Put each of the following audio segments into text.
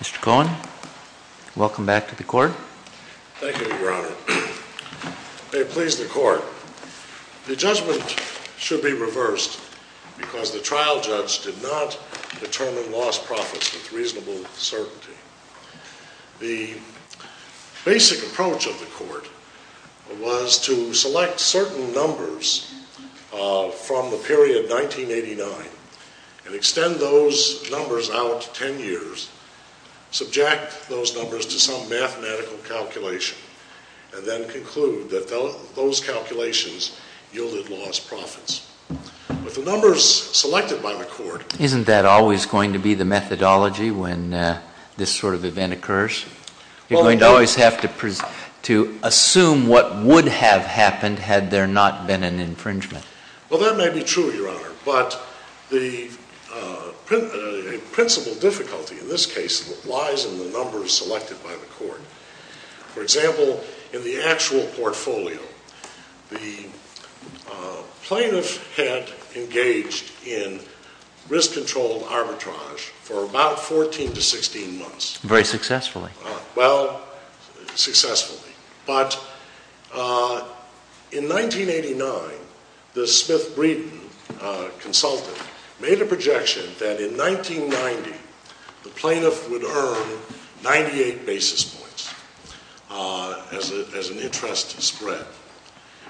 Mr. Cohen, welcome back to the court. Thank you, Your Honor. May it please the court, the judgment should be reversed because the trial judge did not determine lost profits with reasonable certainty. The basic approach of the court was to select certain numbers from the period 1989 and extend those numbers out ten years, subject those numbers to some mathematical calculation, and then conclude that those calculations yielded lost profits. Isn't that always going to be the methodology when this sort of event occurs? You're going to always have to assume what would have happened had there not been an infringement. Well, that may be true, Your Honor, but the principal difficulty in this case lies in the numbers selected by the court. For example, in the actual portfolio, the plaintiff had engaged in risk-controlled arbitrage for about 14 to 16 months. Very successfully. Well, successfully. But in 1989, the Smith Breeden consultant made a projection that in 1990, the plaintiff would earn 98 basis points as an interest spread.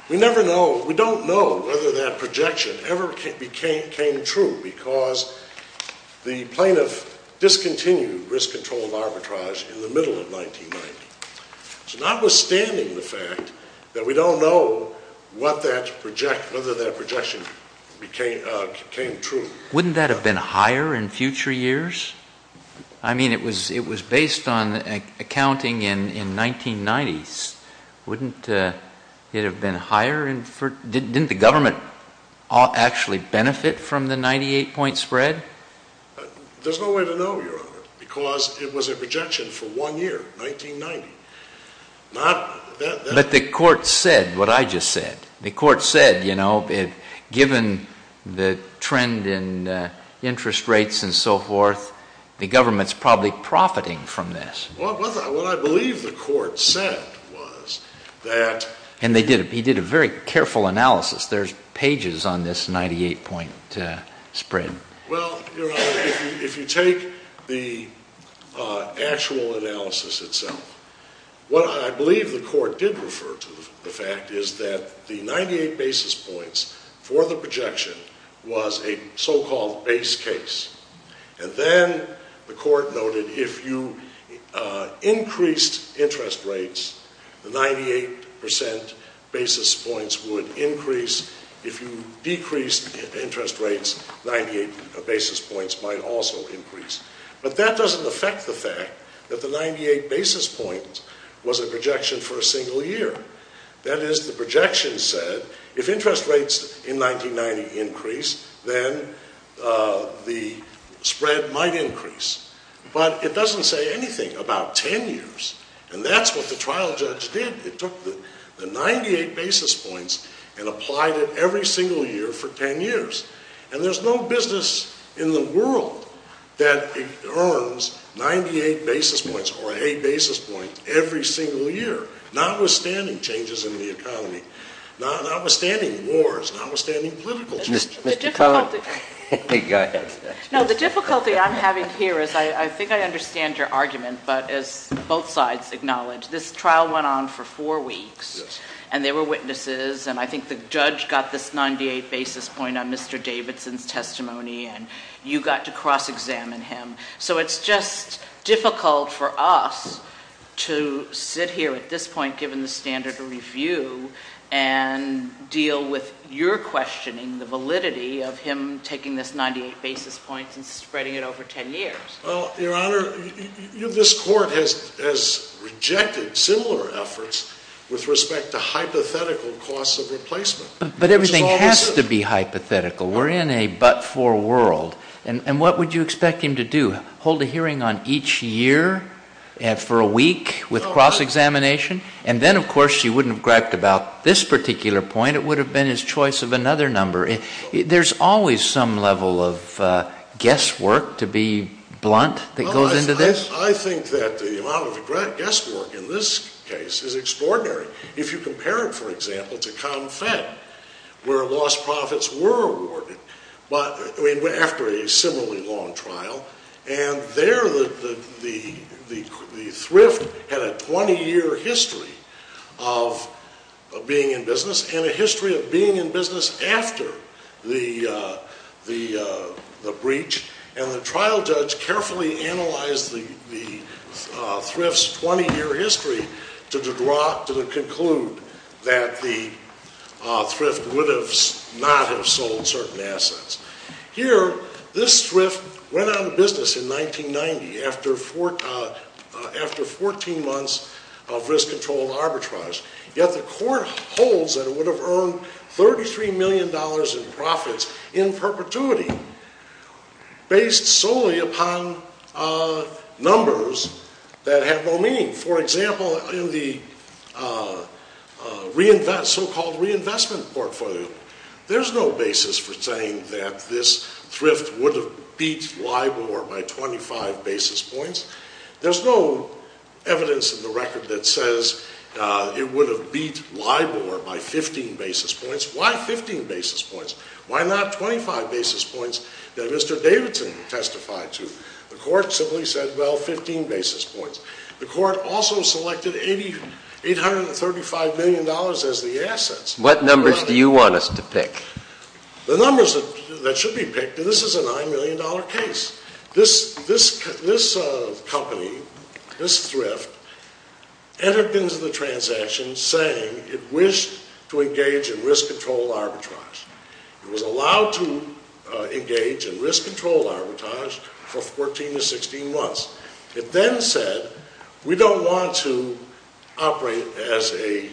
We don't know whether that projection ever came true because the plaintiff discontinued risk-controlled arbitrage in the middle of 1990. So notwithstanding the fact that we don't know whether that projection came true. Wouldn't that have been higher in future years? I mean, it was based on accounting in the 1990s. Wouldn't it have been higher? Didn't the government actually benefit from the 98-point spread? There's no way to know, Your Honor, because it was a projection for one year, 1990. But the court said what I just said. The court said, you know, given the trend in interest rates and so forth, the government's probably profiting from this. Well, what I believe the court said was that... And he did a very careful analysis. There's pages on this 98-point spread. Well, Your Honor, if you take the actual analysis itself, what I believe the court did refer to the fact is that the 98 basis points for the projection was a so-called base case. And then the court noted if you increased interest rates, the 98 percent basis points would increase. If you decreased interest rates, 98 basis points might also increase. But that doesn't affect the fact that the 98 basis points was a projection for a single year. That is, the projection said if interest rates in 1990 increase, then the spread might increase. But it doesn't say anything about 10 years. And that's what the trial judge did. It took the 98 basis points and applied it every single year for 10 years. And there's no business in the world that earns 98 basis points or a basis point every single year, notwithstanding changes in the economy, notwithstanding wars, notwithstanding political changes. The difficulty I'm having here is, I think I understand your argument, but as both sides acknowledge, this trial went on for four weeks. And there were witnesses. And I think the judge got this 98 basis point on Mr. Davidson's testimony. And you got to cross-examine him. So it's just difficult for us to sit here at this point, given the standard of review, and deal with your questioning, the validity of him taking this 98 basis points and spreading it over 10 years. Well, Your Honor, this Court has rejected similar efforts with respect to hypothetical costs of replacement. But everything has to be hypothetical. We're in a but-for world. And what would you expect him to do, hold a hearing on each year for a week with cross-examination? And then, of course, you wouldn't have griped about this particular point. It would have been his choice of another number. There's always some level of guesswork, to be blunt, that goes into this. I think that the amount of guesswork in this case is extraordinary. If you compare it, for example, to Confed, where lost profits were awarded after a similarly long trial, and there the thrift had a 20-year history of being in business and a history of being in business after the breach. And the trial judge carefully analyzed the thrift's 20-year history to conclude that the thrift would not have sold certain assets. Here, this thrift went out of business in 1990 after 14 months of risk-controlled arbitrage. Yet the Court holds that it would have earned $33 million in profits in perpetuity based solely upon numbers that have no meaning. For example, in the so-called reinvestment portfolio, there's no basis for saying that this thrift would have beat LIBOR by 25 basis points. There's no evidence in the record that says it would have beat LIBOR by 15 basis points. Why 15 basis points? Why not 25 basis points that Mr. Davidson testified to? The Court simply said, well, 15 basis points. The Court also selected $835 million as the assets. What numbers do you want us to pick? The numbers that should be picked, this is a $9 million case. This company, this thrift, entered into the transaction saying it wished to engage in risk-controlled arbitrage. It was allowed to engage in risk-controlled arbitrage for 14 to 16 months. It then said, we don't want to operate as a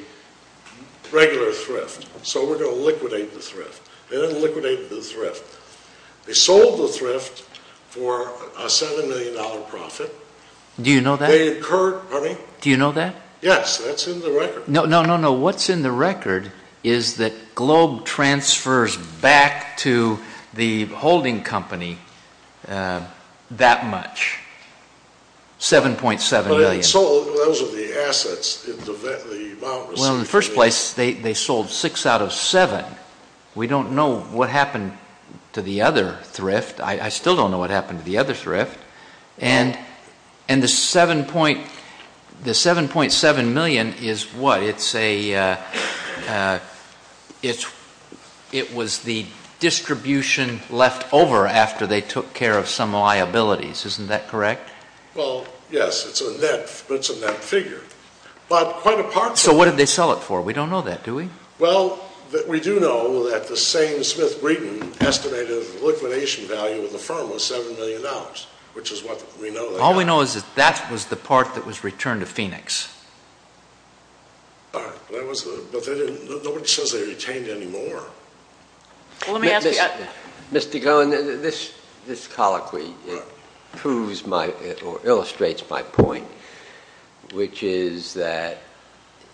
regular thrift, so we're going to liquidate the thrift. They didn't liquidate the thrift. They sold the thrift for a $7 million profit. Do you know that? Pardon me? Do you know that? Yes, that's in the record. No, no, no, no. What's in the record is that Globe transfers back to the holding company that much, $7.7 million. But it sold. Those are the assets. Well, in the first place, they sold six out of seven. We don't know what happened to the other thrift. I still don't know what happened to the other thrift. And the $7.7 million is what? It was the distribution left over after they took care of some liabilities. Isn't that correct? Well, yes, but it's a net figure. So what did they sell it for? We don't know that, do we? Well, we do know that the same Smith Breeden estimated the liquidation value of the firm was $7 million, which is what we know. All we know is that that was the part that was returned to Phoenix. But nobody says they retained any more. Mr. Goen, this colloquy proves my or illustrates my point, which is that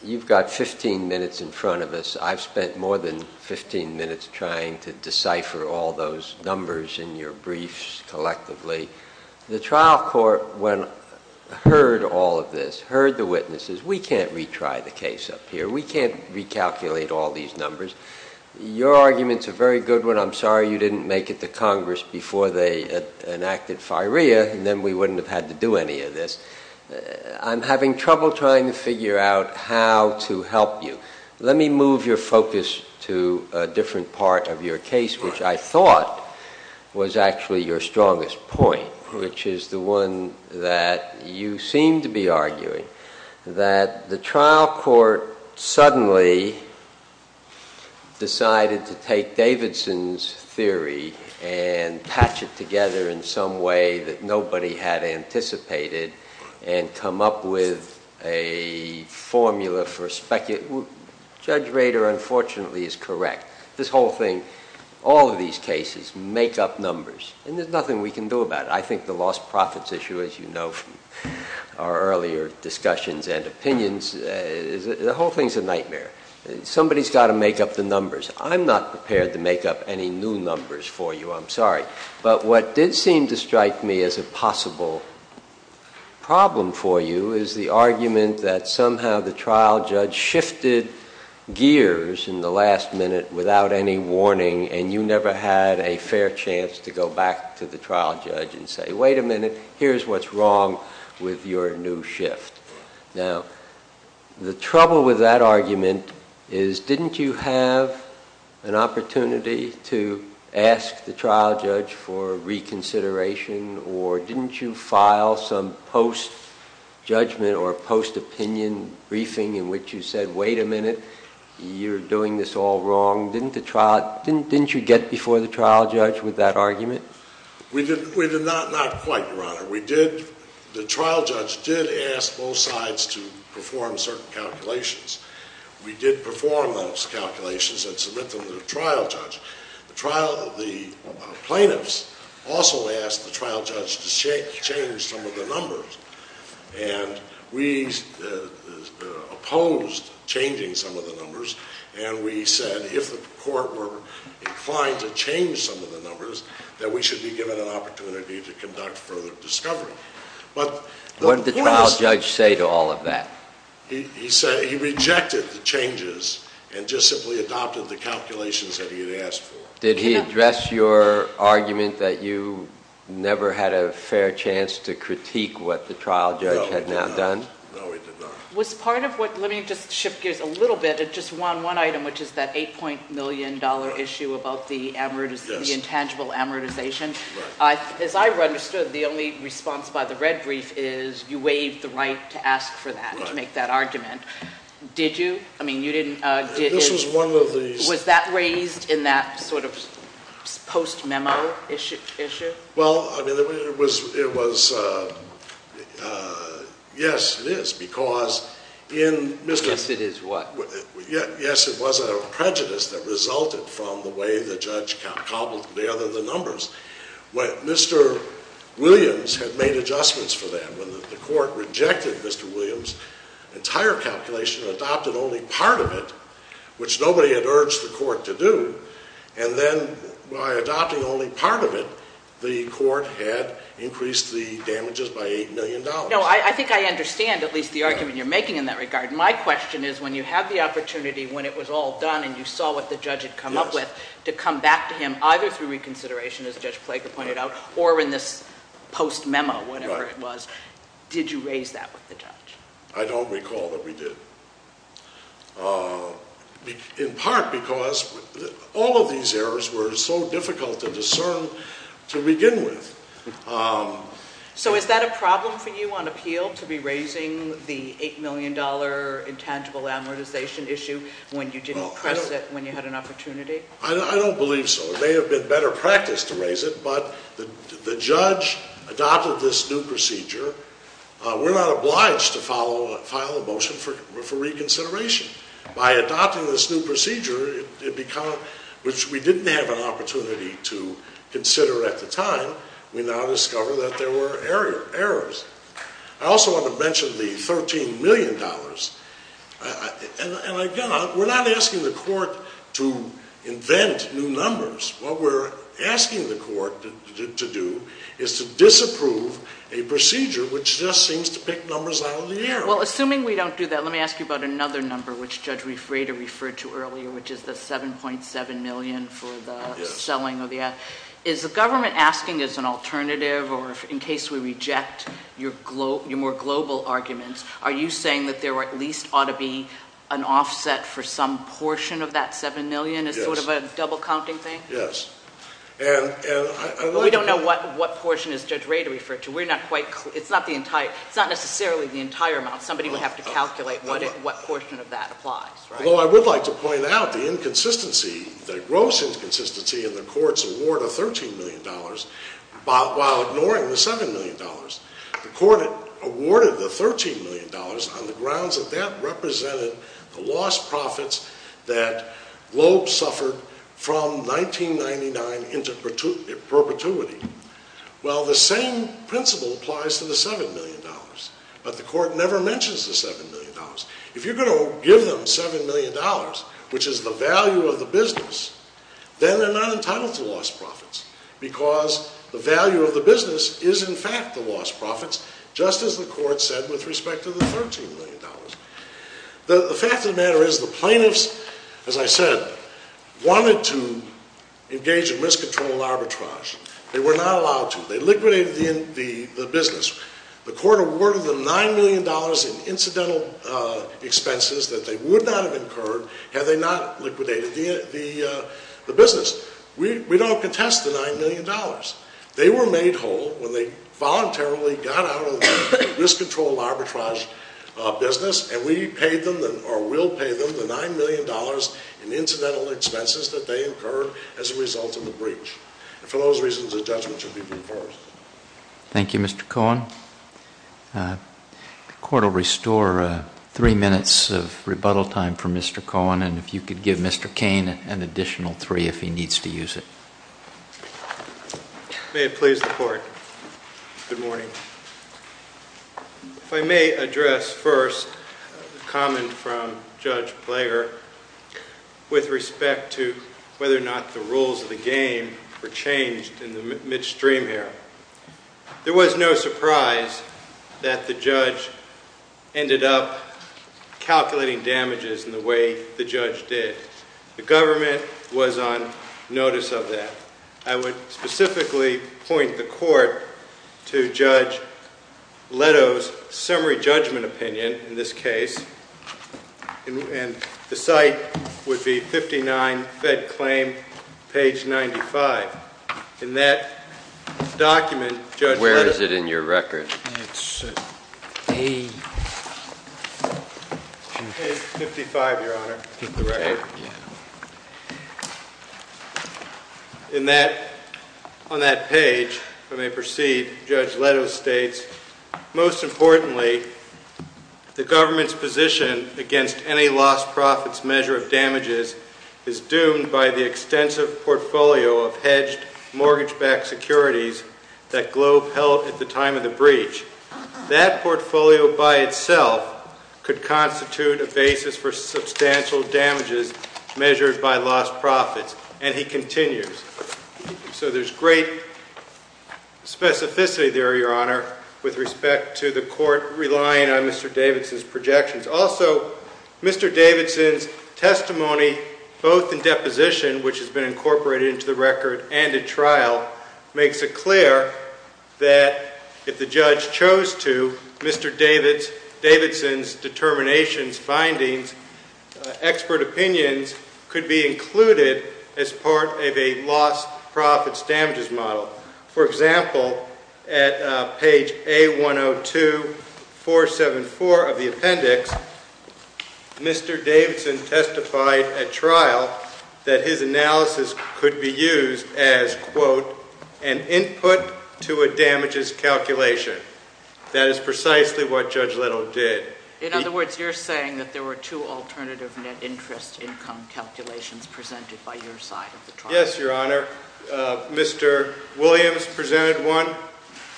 you've got 15 minutes in front of us. I've spent more than 15 minutes trying to decipher all those numbers in your briefs collectively. The trial court, when heard all of this, heard the witnesses, we can't retry the case up here. We can't recalculate all these numbers. Your arguments are very good. I'm sorry you didn't make it to Congress before they enacted FIREA, and then we wouldn't have had to do any of this. I'm having trouble trying to figure out how to help you. Let me move your focus to a different part of your case, which I thought was actually your strongest point, which is the one that you seem to be arguing, that the trial court suddenly decided to take Davidson's theory and patch it together in some way that nobody had anticipated and come up with a formula for speculating. Judge Rader, unfortunately, is correct. This whole thing, all of these cases make up numbers, and there's nothing we can do about it. I think the lost profits issue, as you know from our earlier discussions and opinions, the whole thing's a nightmare. Somebody's got to make up the numbers. I'm not prepared to make up any new numbers for you. I'm sorry. But what did seem to strike me as a possible problem for you is the argument that somehow the trial judge shifted gears in the last minute without any warning, and you never had a fair chance to go back to the trial judge and say, wait a minute, here's what's wrong with your new shift. Now, the trouble with that argument is didn't you have an opportunity to ask the trial judge for reconsideration, or didn't you file some post-judgment or post-opinion briefing in which you said, wait a minute, you're doing this all wrong. Didn't you get before the trial judge with that argument? We did not quite, Your Honor. The trial judge did ask both sides to perform certain calculations. We did perform those calculations and submit them to the trial judge. The plaintiffs also asked the trial judge to change some of the numbers, and we opposed changing some of the numbers, and we said if the court were inclined to change some of the numbers, that we should be given an opportunity to conduct further discovery. What did the trial judge say to all of that? He rejected the changes and just simply adopted the calculations that he had asked for. Did he address your argument that you never had a fair chance to critique what the trial judge had now done? No, he did not. No, he did not. Let me just shift gears a little bit. It just won one item, which is that $8 million issue about the intangible amortization. As I understood, the only response by the red brief is you waived the right to ask for that, to make that argument. Did you? I mean, you didn't. This was one of the— Was that raised in that sort of post-memo issue? Well, I mean, it was—yes, it is, because in— Yes, it is what? Yes, it was a prejudice that resulted from the way the judge cobbled together the numbers. Mr. Williams had made adjustments for that. When the court rejected Mr. Williams' entire calculation and adopted only part of it, which nobody had urged the court to do, and then by adopting only part of it, the court had increased the damages by $8 million. No, I think I understand at least the argument you're making in that regard. My question is when you have the opportunity, when it was all done and you saw what the judge had come up with, to come back to him either through reconsideration, as Judge Plager pointed out, or in this post-memo, whatever it was, did you raise that with the judge? I don't recall that we did, in part because all of these errors were so difficult to discern to begin with. So is that a problem for you on appeal, to be raising the $8 million intangible amortization issue when you didn't press it when you had an opportunity? I don't believe so. It may have been better practice to raise it, but the judge adopted this new procedure. We're not obliged to file a motion for reconsideration. By adopting this new procedure, which we didn't have an opportunity to consider at the time, we now discover that there were errors. I also want to mention the $13 million. And again, we're not asking the court to invent new numbers. What we're asking the court to do is to disapprove a procedure which just seems to pick numbers out of the air. Well, assuming we don't do that, let me ask you about another number, which Judge Refrater referred to earlier, which is the $7.7 million for the selling of the ad. Is the government asking as an alternative, or in case we reject your more global arguments, are you saying that there at least ought to be an offset for some portion of that $7 million as sort of a double-counting thing? Yes. Well, we don't know what portion is Judge Refrater referred to. It's not necessarily the entire amount. Somebody would have to calculate what portion of that applies, right? Although I would like to point out the inconsistency, the gross inconsistency in the court's award of $13 million while ignoring the $7 million. The court awarded the $13 million on the grounds that that represented the lost profits that Globe suffered from 1999 into perpetuity. Well, the same principle applies to the $7 million, but the court never mentions the $7 million. If you're going to give them $7 million, which is the value of the business, then they're not entitled to lost profits, because the value of the business is in fact the lost profits, just as the court said with respect to the $13 million. The fact of the matter is the plaintiffs, as I said, wanted to engage in risk-controlling arbitrage. They were not allowed to. They liquidated the business. The court awarded them $9 million in incidental expenses that they would not have incurred had they not liquidated the business. We don't contest the $9 million. They were made whole when they voluntarily got out of the risk-control arbitrage business, and we paid them or will pay them the $9 million in incidental expenses that they incurred as a result of the breach. And for those reasons, the judgment should be reversed. Thank you, Mr. Cohen. The court will restore three minutes of rebuttal time for Mr. Cohen, and if you could give Mr. Cain an additional three if he needs to use it. May it please the court. Good morning. If I may address first a comment from Judge Plager with respect to whether or not the rules of the game were changed in the midstream here. There was no surprise that the judge ended up calculating damages in the way the judge did. The government was on notice of that. I would specifically point the court to Judge Leto's summary judgment opinion in this case, and the site would be 59 Fed Claim, page 95. In that document, Judge Leto. Where is it in your record? On that page, if I may proceed, Judge Leto states, most importantly, the government's position against any lost profits measure of damages is doomed by the extensive portfolio of hedged mortgage-backed securities that Globe held at the time of the breach. That portfolio by itself could constitute a basis for substantial damages measured by lost profits, and he continues. So there's great specificity there, Your Honor, with respect to the court relying on Mr. Davidson's projections. Also, Mr. Davidson's testimony, both in deposition, which has been incorporated into the record, and at trial, makes it clear that if the judge chose to, Mr. Davidson's determinations, findings, expert opinions could be included as part of a lost profits damages model. For example, at page A102474 of the appendix, Mr. Davidson testified at trial that his analysis could be used as, quote, an input to a damages calculation. That is precisely what Judge Leto did. In other words, you're saying that there were two alternative net interest income calculations presented by your side at the trial? Yes, Your Honor. Mr. Williams presented one,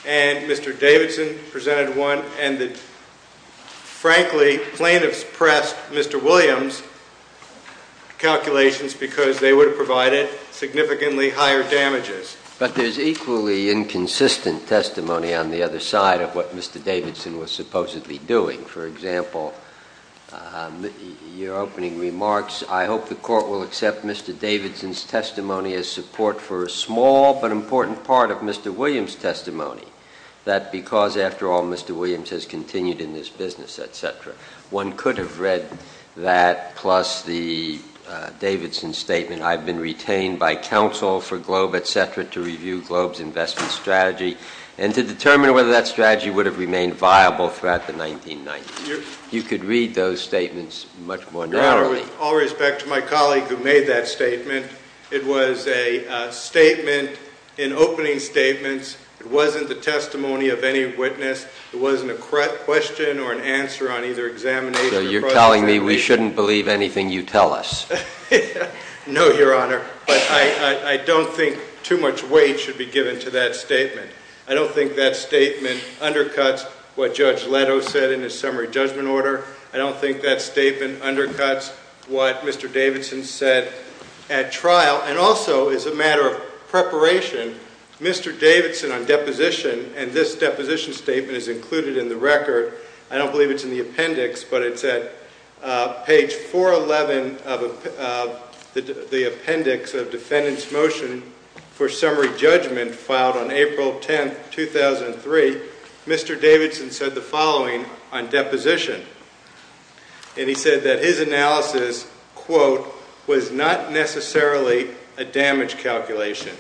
and Mr. Davidson presented one, and that, frankly, plaintiffs pressed Mr. Williams' calculations because they would have provided significantly higher damages. But there's equally inconsistent testimony on the other side of what Mr. Davidson was supposedly doing. For example, your opening remarks, I hope the court will accept Mr. Davidson's testimony as support for a small but important part of Mr. Williams' testimony, that because, after all, Mr. Williams has continued in this business, et cetera, one could have read that plus the Davidson statement, I've been retained by counsel for Globe, et cetera, to review Globe's investment strategy and to determine whether that strategy would have remained viable throughout the 1990s. You could read those statements much more narrowly. Your Honor, with all respect to my colleague who made that statement, it was a statement in opening statements. It wasn't the testimony of any witness. It wasn't a question or an answer on either examination or processing. So you're telling me we shouldn't believe anything you tell us? No, Your Honor. But I don't think too much weight should be given to that statement. I don't think that statement undercuts what Judge Leto said in his summary judgment order. I don't think that statement undercuts what Mr. Davidson said at trial. Now, and also as a matter of preparation, Mr. Davidson on deposition, and this deposition statement is included in the record. I don't believe it's in the appendix, but it's at page 411 of the appendix of defendant's motion for summary judgment filed on April 10, 2003. Mr. Davidson said the following on deposition. And he said that his analysis, quote, was not necessarily a damage calculation.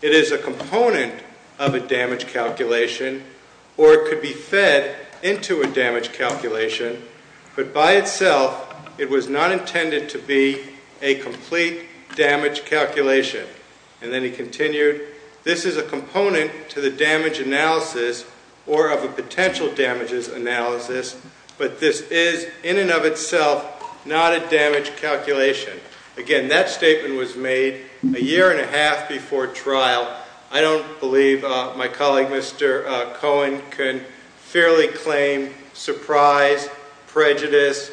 It is a component of a damage calculation, or it could be fed into a damage calculation, but by itself it was not intended to be a complete damage calculation. And then he continued, this is a component to the damage analysis or of a potential damages analysis, but this is in and of itself not a damage calculation. Again, that statement was made a year and a half before trial. I don't believe my colleague Mr. Cohen can fairly claim surprise, prejudice,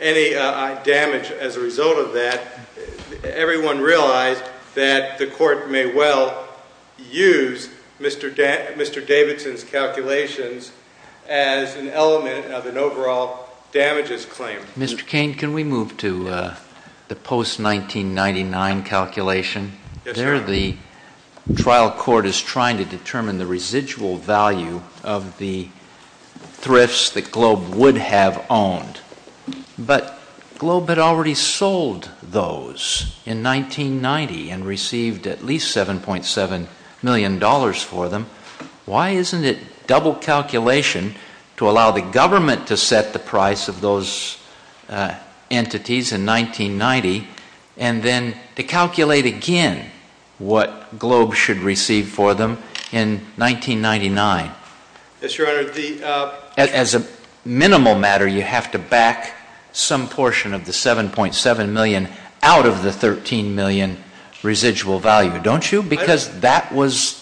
any damage as a result of that. Everyone realized that the court may well use Mr. Davidson's calculations as an element of an overall damages claim. Mr. Cain, can we move to the post-1999 calculation? Yes, Your Honor. There the trial court is trying to determine the residual value of the thrifts that Globe would have owned. But Globe had already sold those in 1990 and received at least $7.7 million for them. Why isn't it double calculation to allow the government to set the price of those entities in 1990 and then to calculate again what Globe should receive for them in 1999? Yes, Your Honor. As a minimal matter, you have to back some portion of the $7.7 million out of the $13 million residual value, don't you? Because that was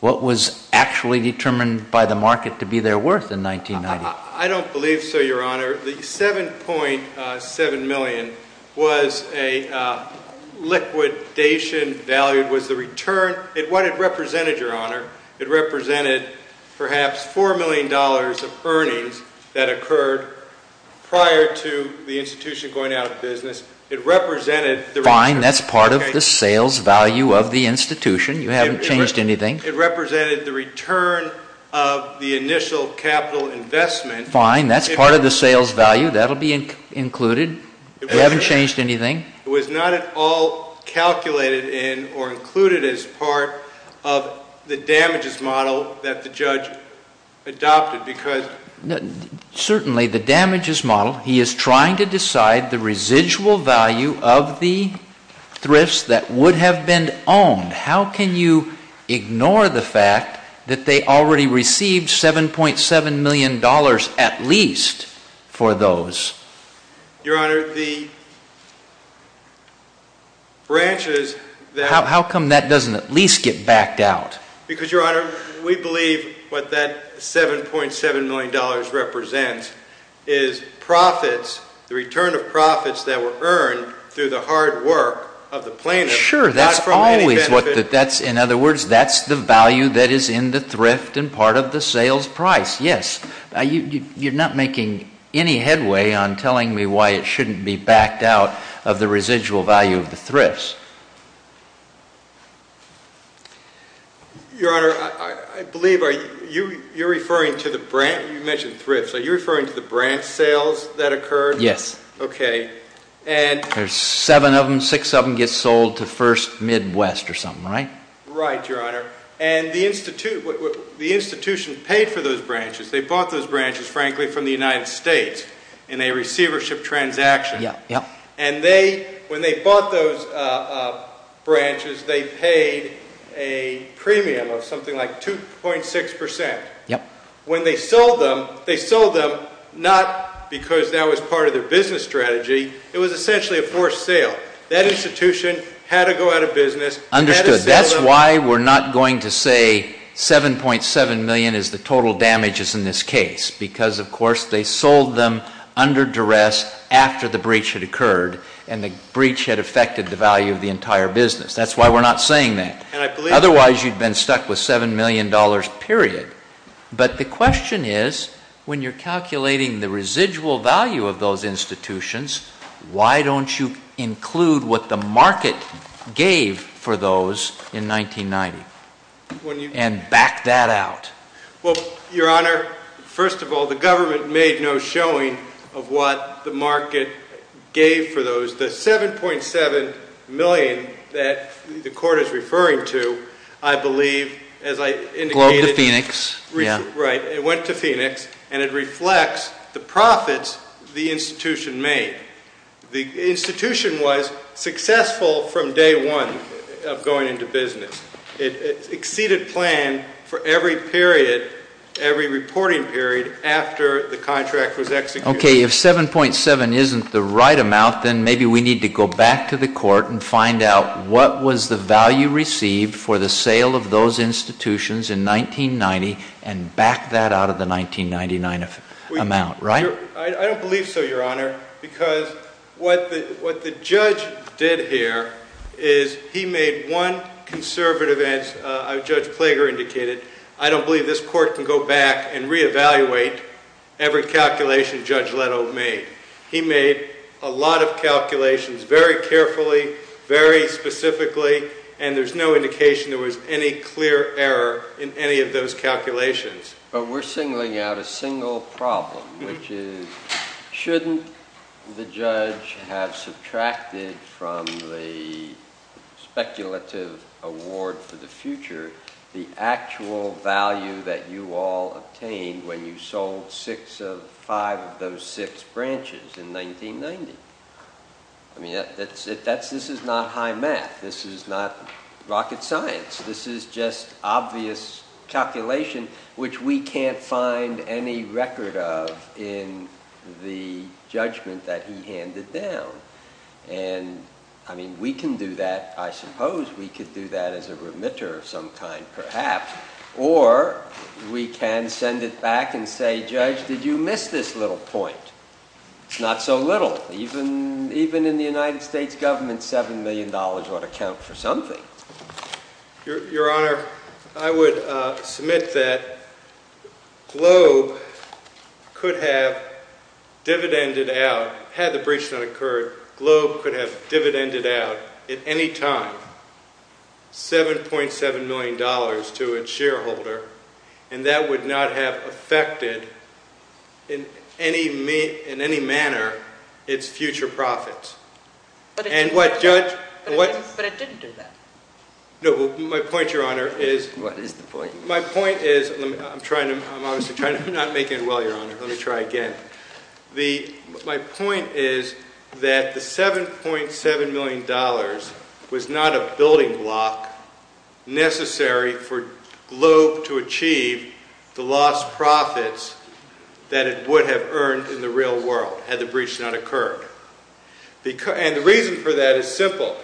what was actually determined by the market to be their worth in 1990. I don't believe so, Your Honor. The $7.7 million was a liquidation value. What it represented, Your Honor, it represented perhaps $4 million of earnings that occurred prior to the institution going out of business. It represented the return. Fine. That's part of the sales value of the institution. You haven't changed anything. It represented the return of the initial capital investment. Fine. That's part of the sales value. That will be included. You haven't changed anything. It was not at all calculated in or included as part of the damages model that the judge adopted. Certainly, the damages model, he is trying to decide the residual value of the thrifts that would have been owned. How can you ignore the fact that they already received $7.7 million at least for those? Your Honor, the branches that How come that doesn't at least get backed out? Because, Your Honor, we believe what that $7.7 million represents is profits, the return of profits that were earned through the hard work of the plaintiff, not from any benefit. Sure, that's always what that's. In other words, that's the value that is in the thrift and part of the sales price. Yes. You're not making any headway on telling me why it shouldn't be backed out of the residual value of the thrifts. Your Honor, I believe you're referring to the branch. You mentioned thrifts. Are you referring to the branch sales that occurred? Yes. Okay. There's seven of them. Six of them get sold to First Midwest or something, right? Right, Your Honor. And the institution paid for those branches. They bought those branches, frankly, from the United States in a receivership transaction. And when they bought those branches, they paid a premium of something like 2.6%. When they sold them, they sold them not because that was part of their business strategy. It was essentially a forced sale. That institution had to go out of business. Understood. That's why we're not going to say 7.7 million is the total damages in this case, because, of course, they sold them under duress after the breach had occurred and the breach had affected the value of the entire business. That's why we're not saying that. Otherwise, you'd been stuck with $7 million, period. But the question is, when you're calculating the residual value of those institutions, why don't you include what the market gave for those in 1990 and back that out? Well, Your Honor, first of all, the government made no showing of what the market gave for those. The 7.7 million that the Court is referring to, I believe, as I indicated, Globe to Phoenix. Right. It went to Phoenix, and it reflects the profits the institution made. The institution was successful from day one of going into business. It exceeded plan for every period, every reporting period, after the contract was executed. Okay. If 7.7 isn't the right amount, then maybe we need to go back to the Court and find out what was the value received for the sale of those institutions in 1990 and back that out of the 1999 amount. Right? I don't believe so, Your Honor, because what the judge did here is he made one conservative, as Judge Klager indicated, I don't believe this Court can go back and reevaluate every calculation Judge Leto made. He made a lot of calculations very carefully, very specifically, and there's no indication there was any clear error in any of those calculations. But we're singling out a single problem, which is shouldn't the judge have subtracted from the speculative award for the future the actual value that you all obtained when you sold five of those six branches in 1990? I mean, this is not high math. This is not rocket science. This is just obvious calculation, which we can't find any record of in the judgment that he handed down. And, I mean, we can do that, I suppose. We could do that as a remitter of some kind, perhaps. Or we can send it back and say, Judge, did you miss this little point? It's not so little. Even in the United States government, $7 million ought to count for something. Your Honor, I would submit that Globe could have dividended out, had the breach not occurred, Globe could have dividended out at any time $7.7 million to its shareholder, and that would not have affected in any manner its future profits. But it didn't do that. No, but my point, Your Honor, is— What is the point? My point is—I'm trying to—I'm obviously trying to—I'm not making it well, Your Honor. Let me try again. My point is that the $7.7 million was not a building block necessary for Globe to achieve the lost profits that it would have earned in the real world had the breach not occurred. And the reason for that is simple.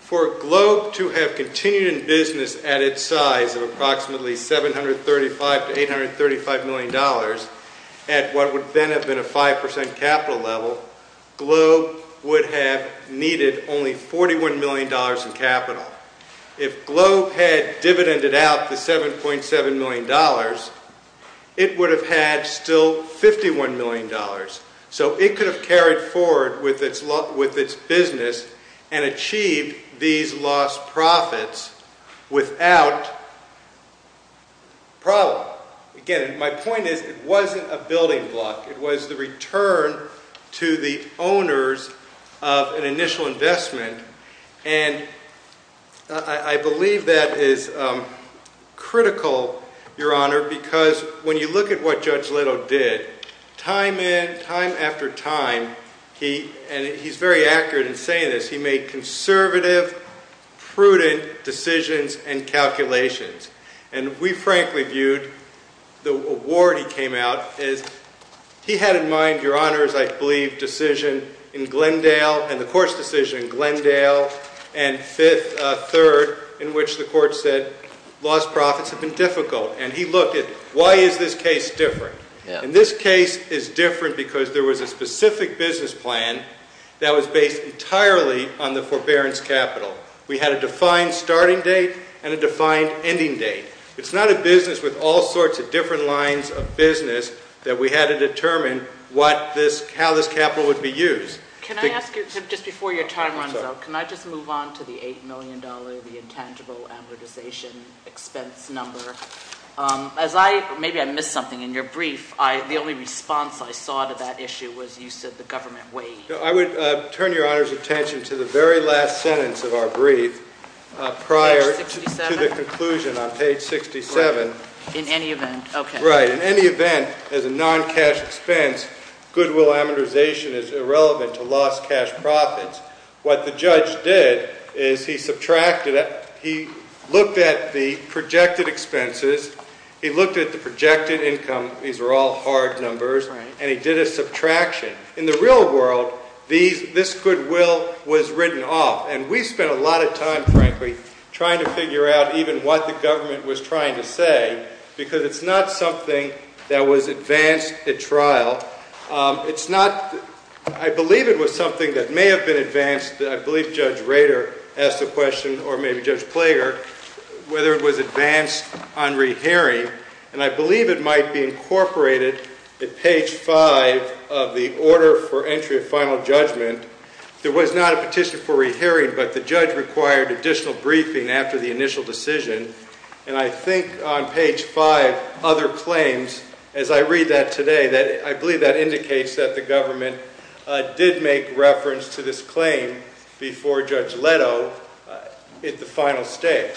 For Globe to have continued in business at its size of approximately $735 to $835 million at what would then have been a 5% capital level, Globe would have needed only $41 million in capital. If Globe had dividended out the $7.7 million, it would have had still $51 million. So it could have carried forward with its business and achieved these lost profits without problem. Again, my point is it wasn't a building block. It was the return to the owners of an initial investment. And I believe that is critical, Your Honor, because when you look at what Judge Leto did, time after time, and he's very accurate in saying this, he made conservative, prudent decisions and calculations. And we frankly viewed the award he came out as—he had in mind, Your Honor, as I believe, decision in Glendale and the Court's decision in Glendale and Fifth—Third, in which the Court said lost profits have been difficult. And he looked at why is this case different? And this case is different because there was a specific business plan that was based entirely on the forbearance capital. We had a defined starting date and a defined ending date. It's not a business with all sorts of different lines of business that we had to determine what this—how this capital would be used. Can I ask you, just before your time runs out, can I just move on to the $8 million, the intangible amortization expense number? As I—maybe I missed something in your brief. The only response I saw to that issue was you said the government waived. I would turn Your Honor's attention to the very last sentence of our brief prior to the conclusion on page 67. In any event. Okay. Right. In any event, as a non-cash expense, goodwill amortization is irrelevant to lost cash profits. What the judge did is he subtracted—he looked at the projected expenses. He looked at the projected income. These are all hard numbers. Right. And he did a subtraction. In the real world, these—this goodwill was written off. And we spent a lot of time, frankly, trying to figure out even what the government was trying to say because it's not something that was advanced at trial. It's not—I believe it was something that may have been advanced. I believe Judge Rader asked the question, or maybe Judge Plager, whether it was advanced on rehearing. And I believe it might be incorporated at page 5 of the order for entry of final judgment. There was not a petition for rehearing, but the judge required additional briefing after the initial decision. And I think on page 5, other claims, as I read that today, I believe that indicates that the government did make reference to this claim before Judge Leto at the final stage.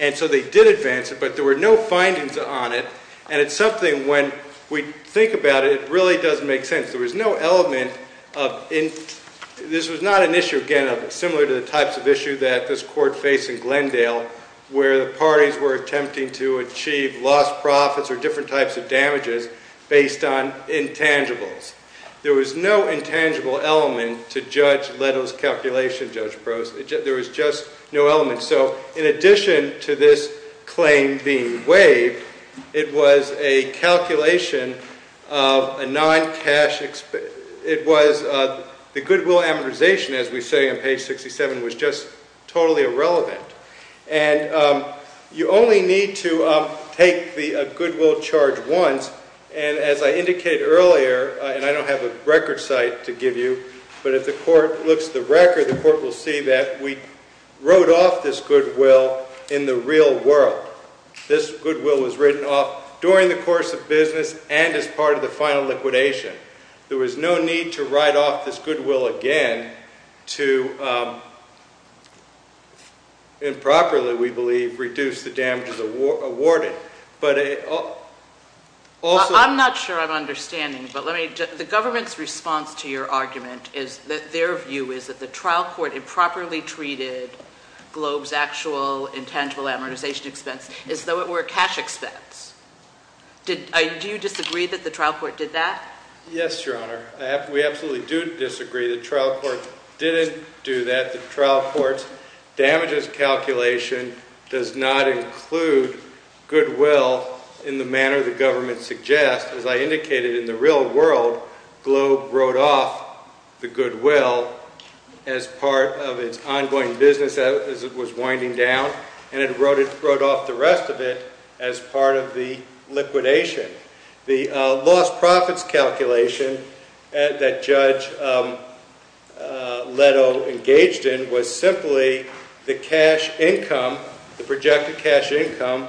And so they did advance it, but there were no findings on it. And it's something, when we think about it, it really doesn't make sense. There was no element of—this was not an issue, again, similar to the types of issue that this court faced in Glendale, where the parties were attempting to achieve lost profits or different types of damages based on intangibles. There was no intangible element to Judge Leto's calculation, Judge Brose. There was just no element. So in addition to this claim being waived, it was a calculation of a non-cash—it was—the goodwill amortization, as we say on page 67, was just totally irrelevant. And you only need to take the goodwill charge once. And as I indicated earlier, and I don't have a record site to give you, but if the court looks at the record, the court will see that we wrote off this goodwill in the real world. This goodwill was written off during the course of business and as part of the final liquidation. There was no need to write off this goodwill again to improperly, we believe, reduce the damages awarded. But also— I'm not sure I'm understanding, but let me—the government's response to your argument is that their view is that the trial court improperly treated Globe's actual intangible amortization expense as though it were a cash expense. Do you disagree that the trial court did that? Yes, Your Honor. We absolutely do disagree. The trial court didn't do that. The trial court's damages calculation does not include goodwill in the manner the government suggests. As I indicated, in the real world, Globe wrote off the goodwill as part of its ongoing business as it was winding down, and it wrote off the rest of it as part of the liquidation. The lost profits calculation that Judge Leto engaged in was simply the cash income, the projected cash income,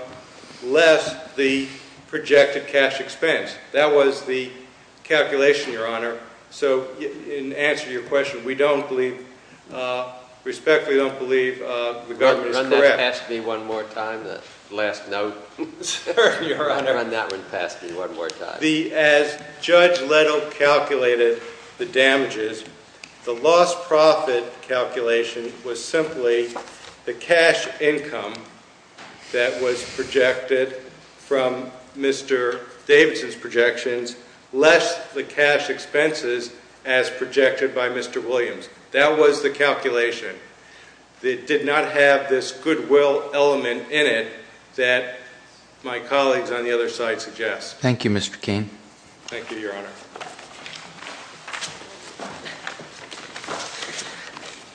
less the projected cash expense. That was the calculation, Your Honor. So in answer to your question, we don't believe—respectfully don't believe the government is correct. Run that past me one more time, the last note, Your Honor. Run that one past me one more time. As Judge Leto calculated the damages, the lost profit calculation was simply the cash income that was projected from Mr. Davidson's projections, less the cash expenses as projected by Mr. Williams. That was the calculation. It did not have this goodwill element in it that my colleagues on the other side suggest. Thank you, Mr. Keene. Thank you, Your Honor.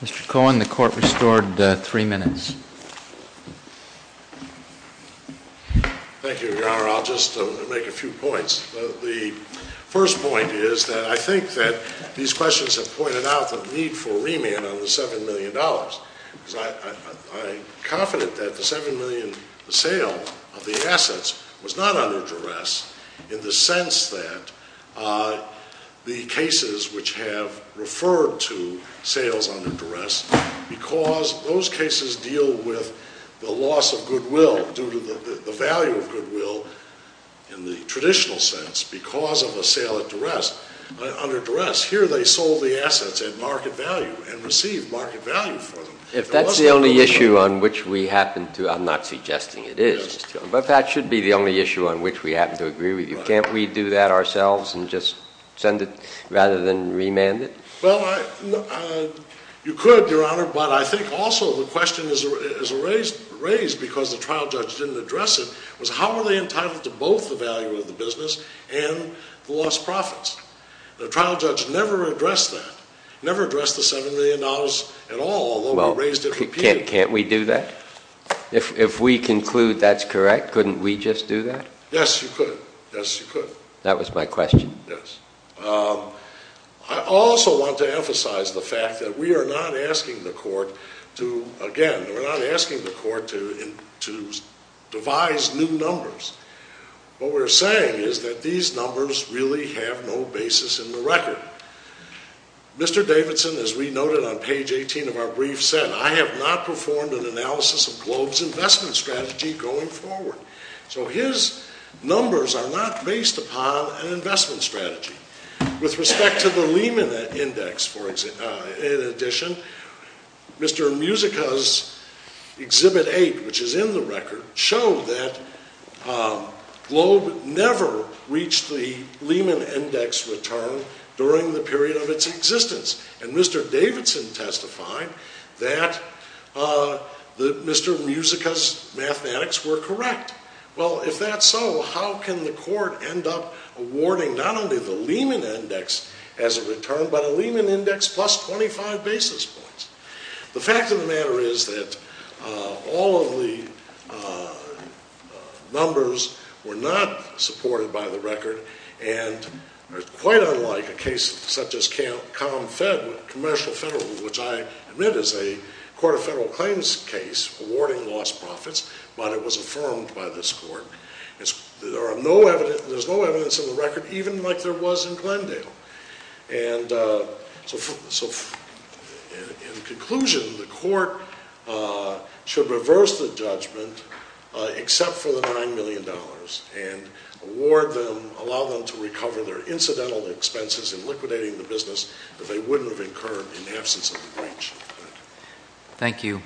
Mr. Cohen, the court restored three minutes. Thank you, Your Honor. I'll just make a few points. The first point is that I think that these questions have pointed out the need for a remand on the $7 million. I'm confident that the $7 million sale of the assets was not under duress in the sense that the cases which have referred to sales under duress because those cases deal with the loss of goodwill due to the value of goodwill in the traditional sense because of a sale under duress. Here they sold the assets at market value and received market value for them. If that's the only issue on which we happen to, I'm not suggesting it is, but that should be the only issue on which we happen to agree with you. Can't we do that ourselves and just send it rather than remand it? Well, you could, Your Honor, but I think also the question is raised because the trial judge didn't address it was how are they entitled to both the value of the business and the lost profits? The trial judge never addressed that, never addressed the $7 million at all, although he raised it repeatedly. Well, can't we do that? If we conclude that's correct, couldn't we just do that? Yes, you could. Yes, you could. That was my question. Yes. I also want to emphasize the fact that we are not asking the court to, again, we're not asking the court to devise new numbers. What we're saying is that these numbers really have no basis in the record. Mr. Davidson, as we noted on page 18 of our brief, said, I have not performed an analysis of Globe's investment strategy going forward. So his numbers are not based upon an investment strategy. With respect to the Lehman Index, in addition, Mr. Musica's Exhibit 8, which is in the record, showed that Globe never reached the Lehman Index return during the period of its existence. And Mr. Davidson testified that Mr. Musica's mathematics were correct. Well, if that's so, how can the court end up awarding not only the Lehman Index as a return, but a Lehman Index plus 25 basis points? The fact of the matter is that all of the numbers were not supported by the record. And quite unlike a case such as Comfed, Commercial Federal, which I admit is a court of federal claims case awarding lost profits, but it was affirmed by this court. There's no evidence in the record, even like there was in Glendale. And so in conclusion, the court should reverse the judgment except for the $9 million and award them, allow them to recover their incidental expenses in liquidating the business that they wouldn't have incurred in the absence of the breach. Thank you. All rise.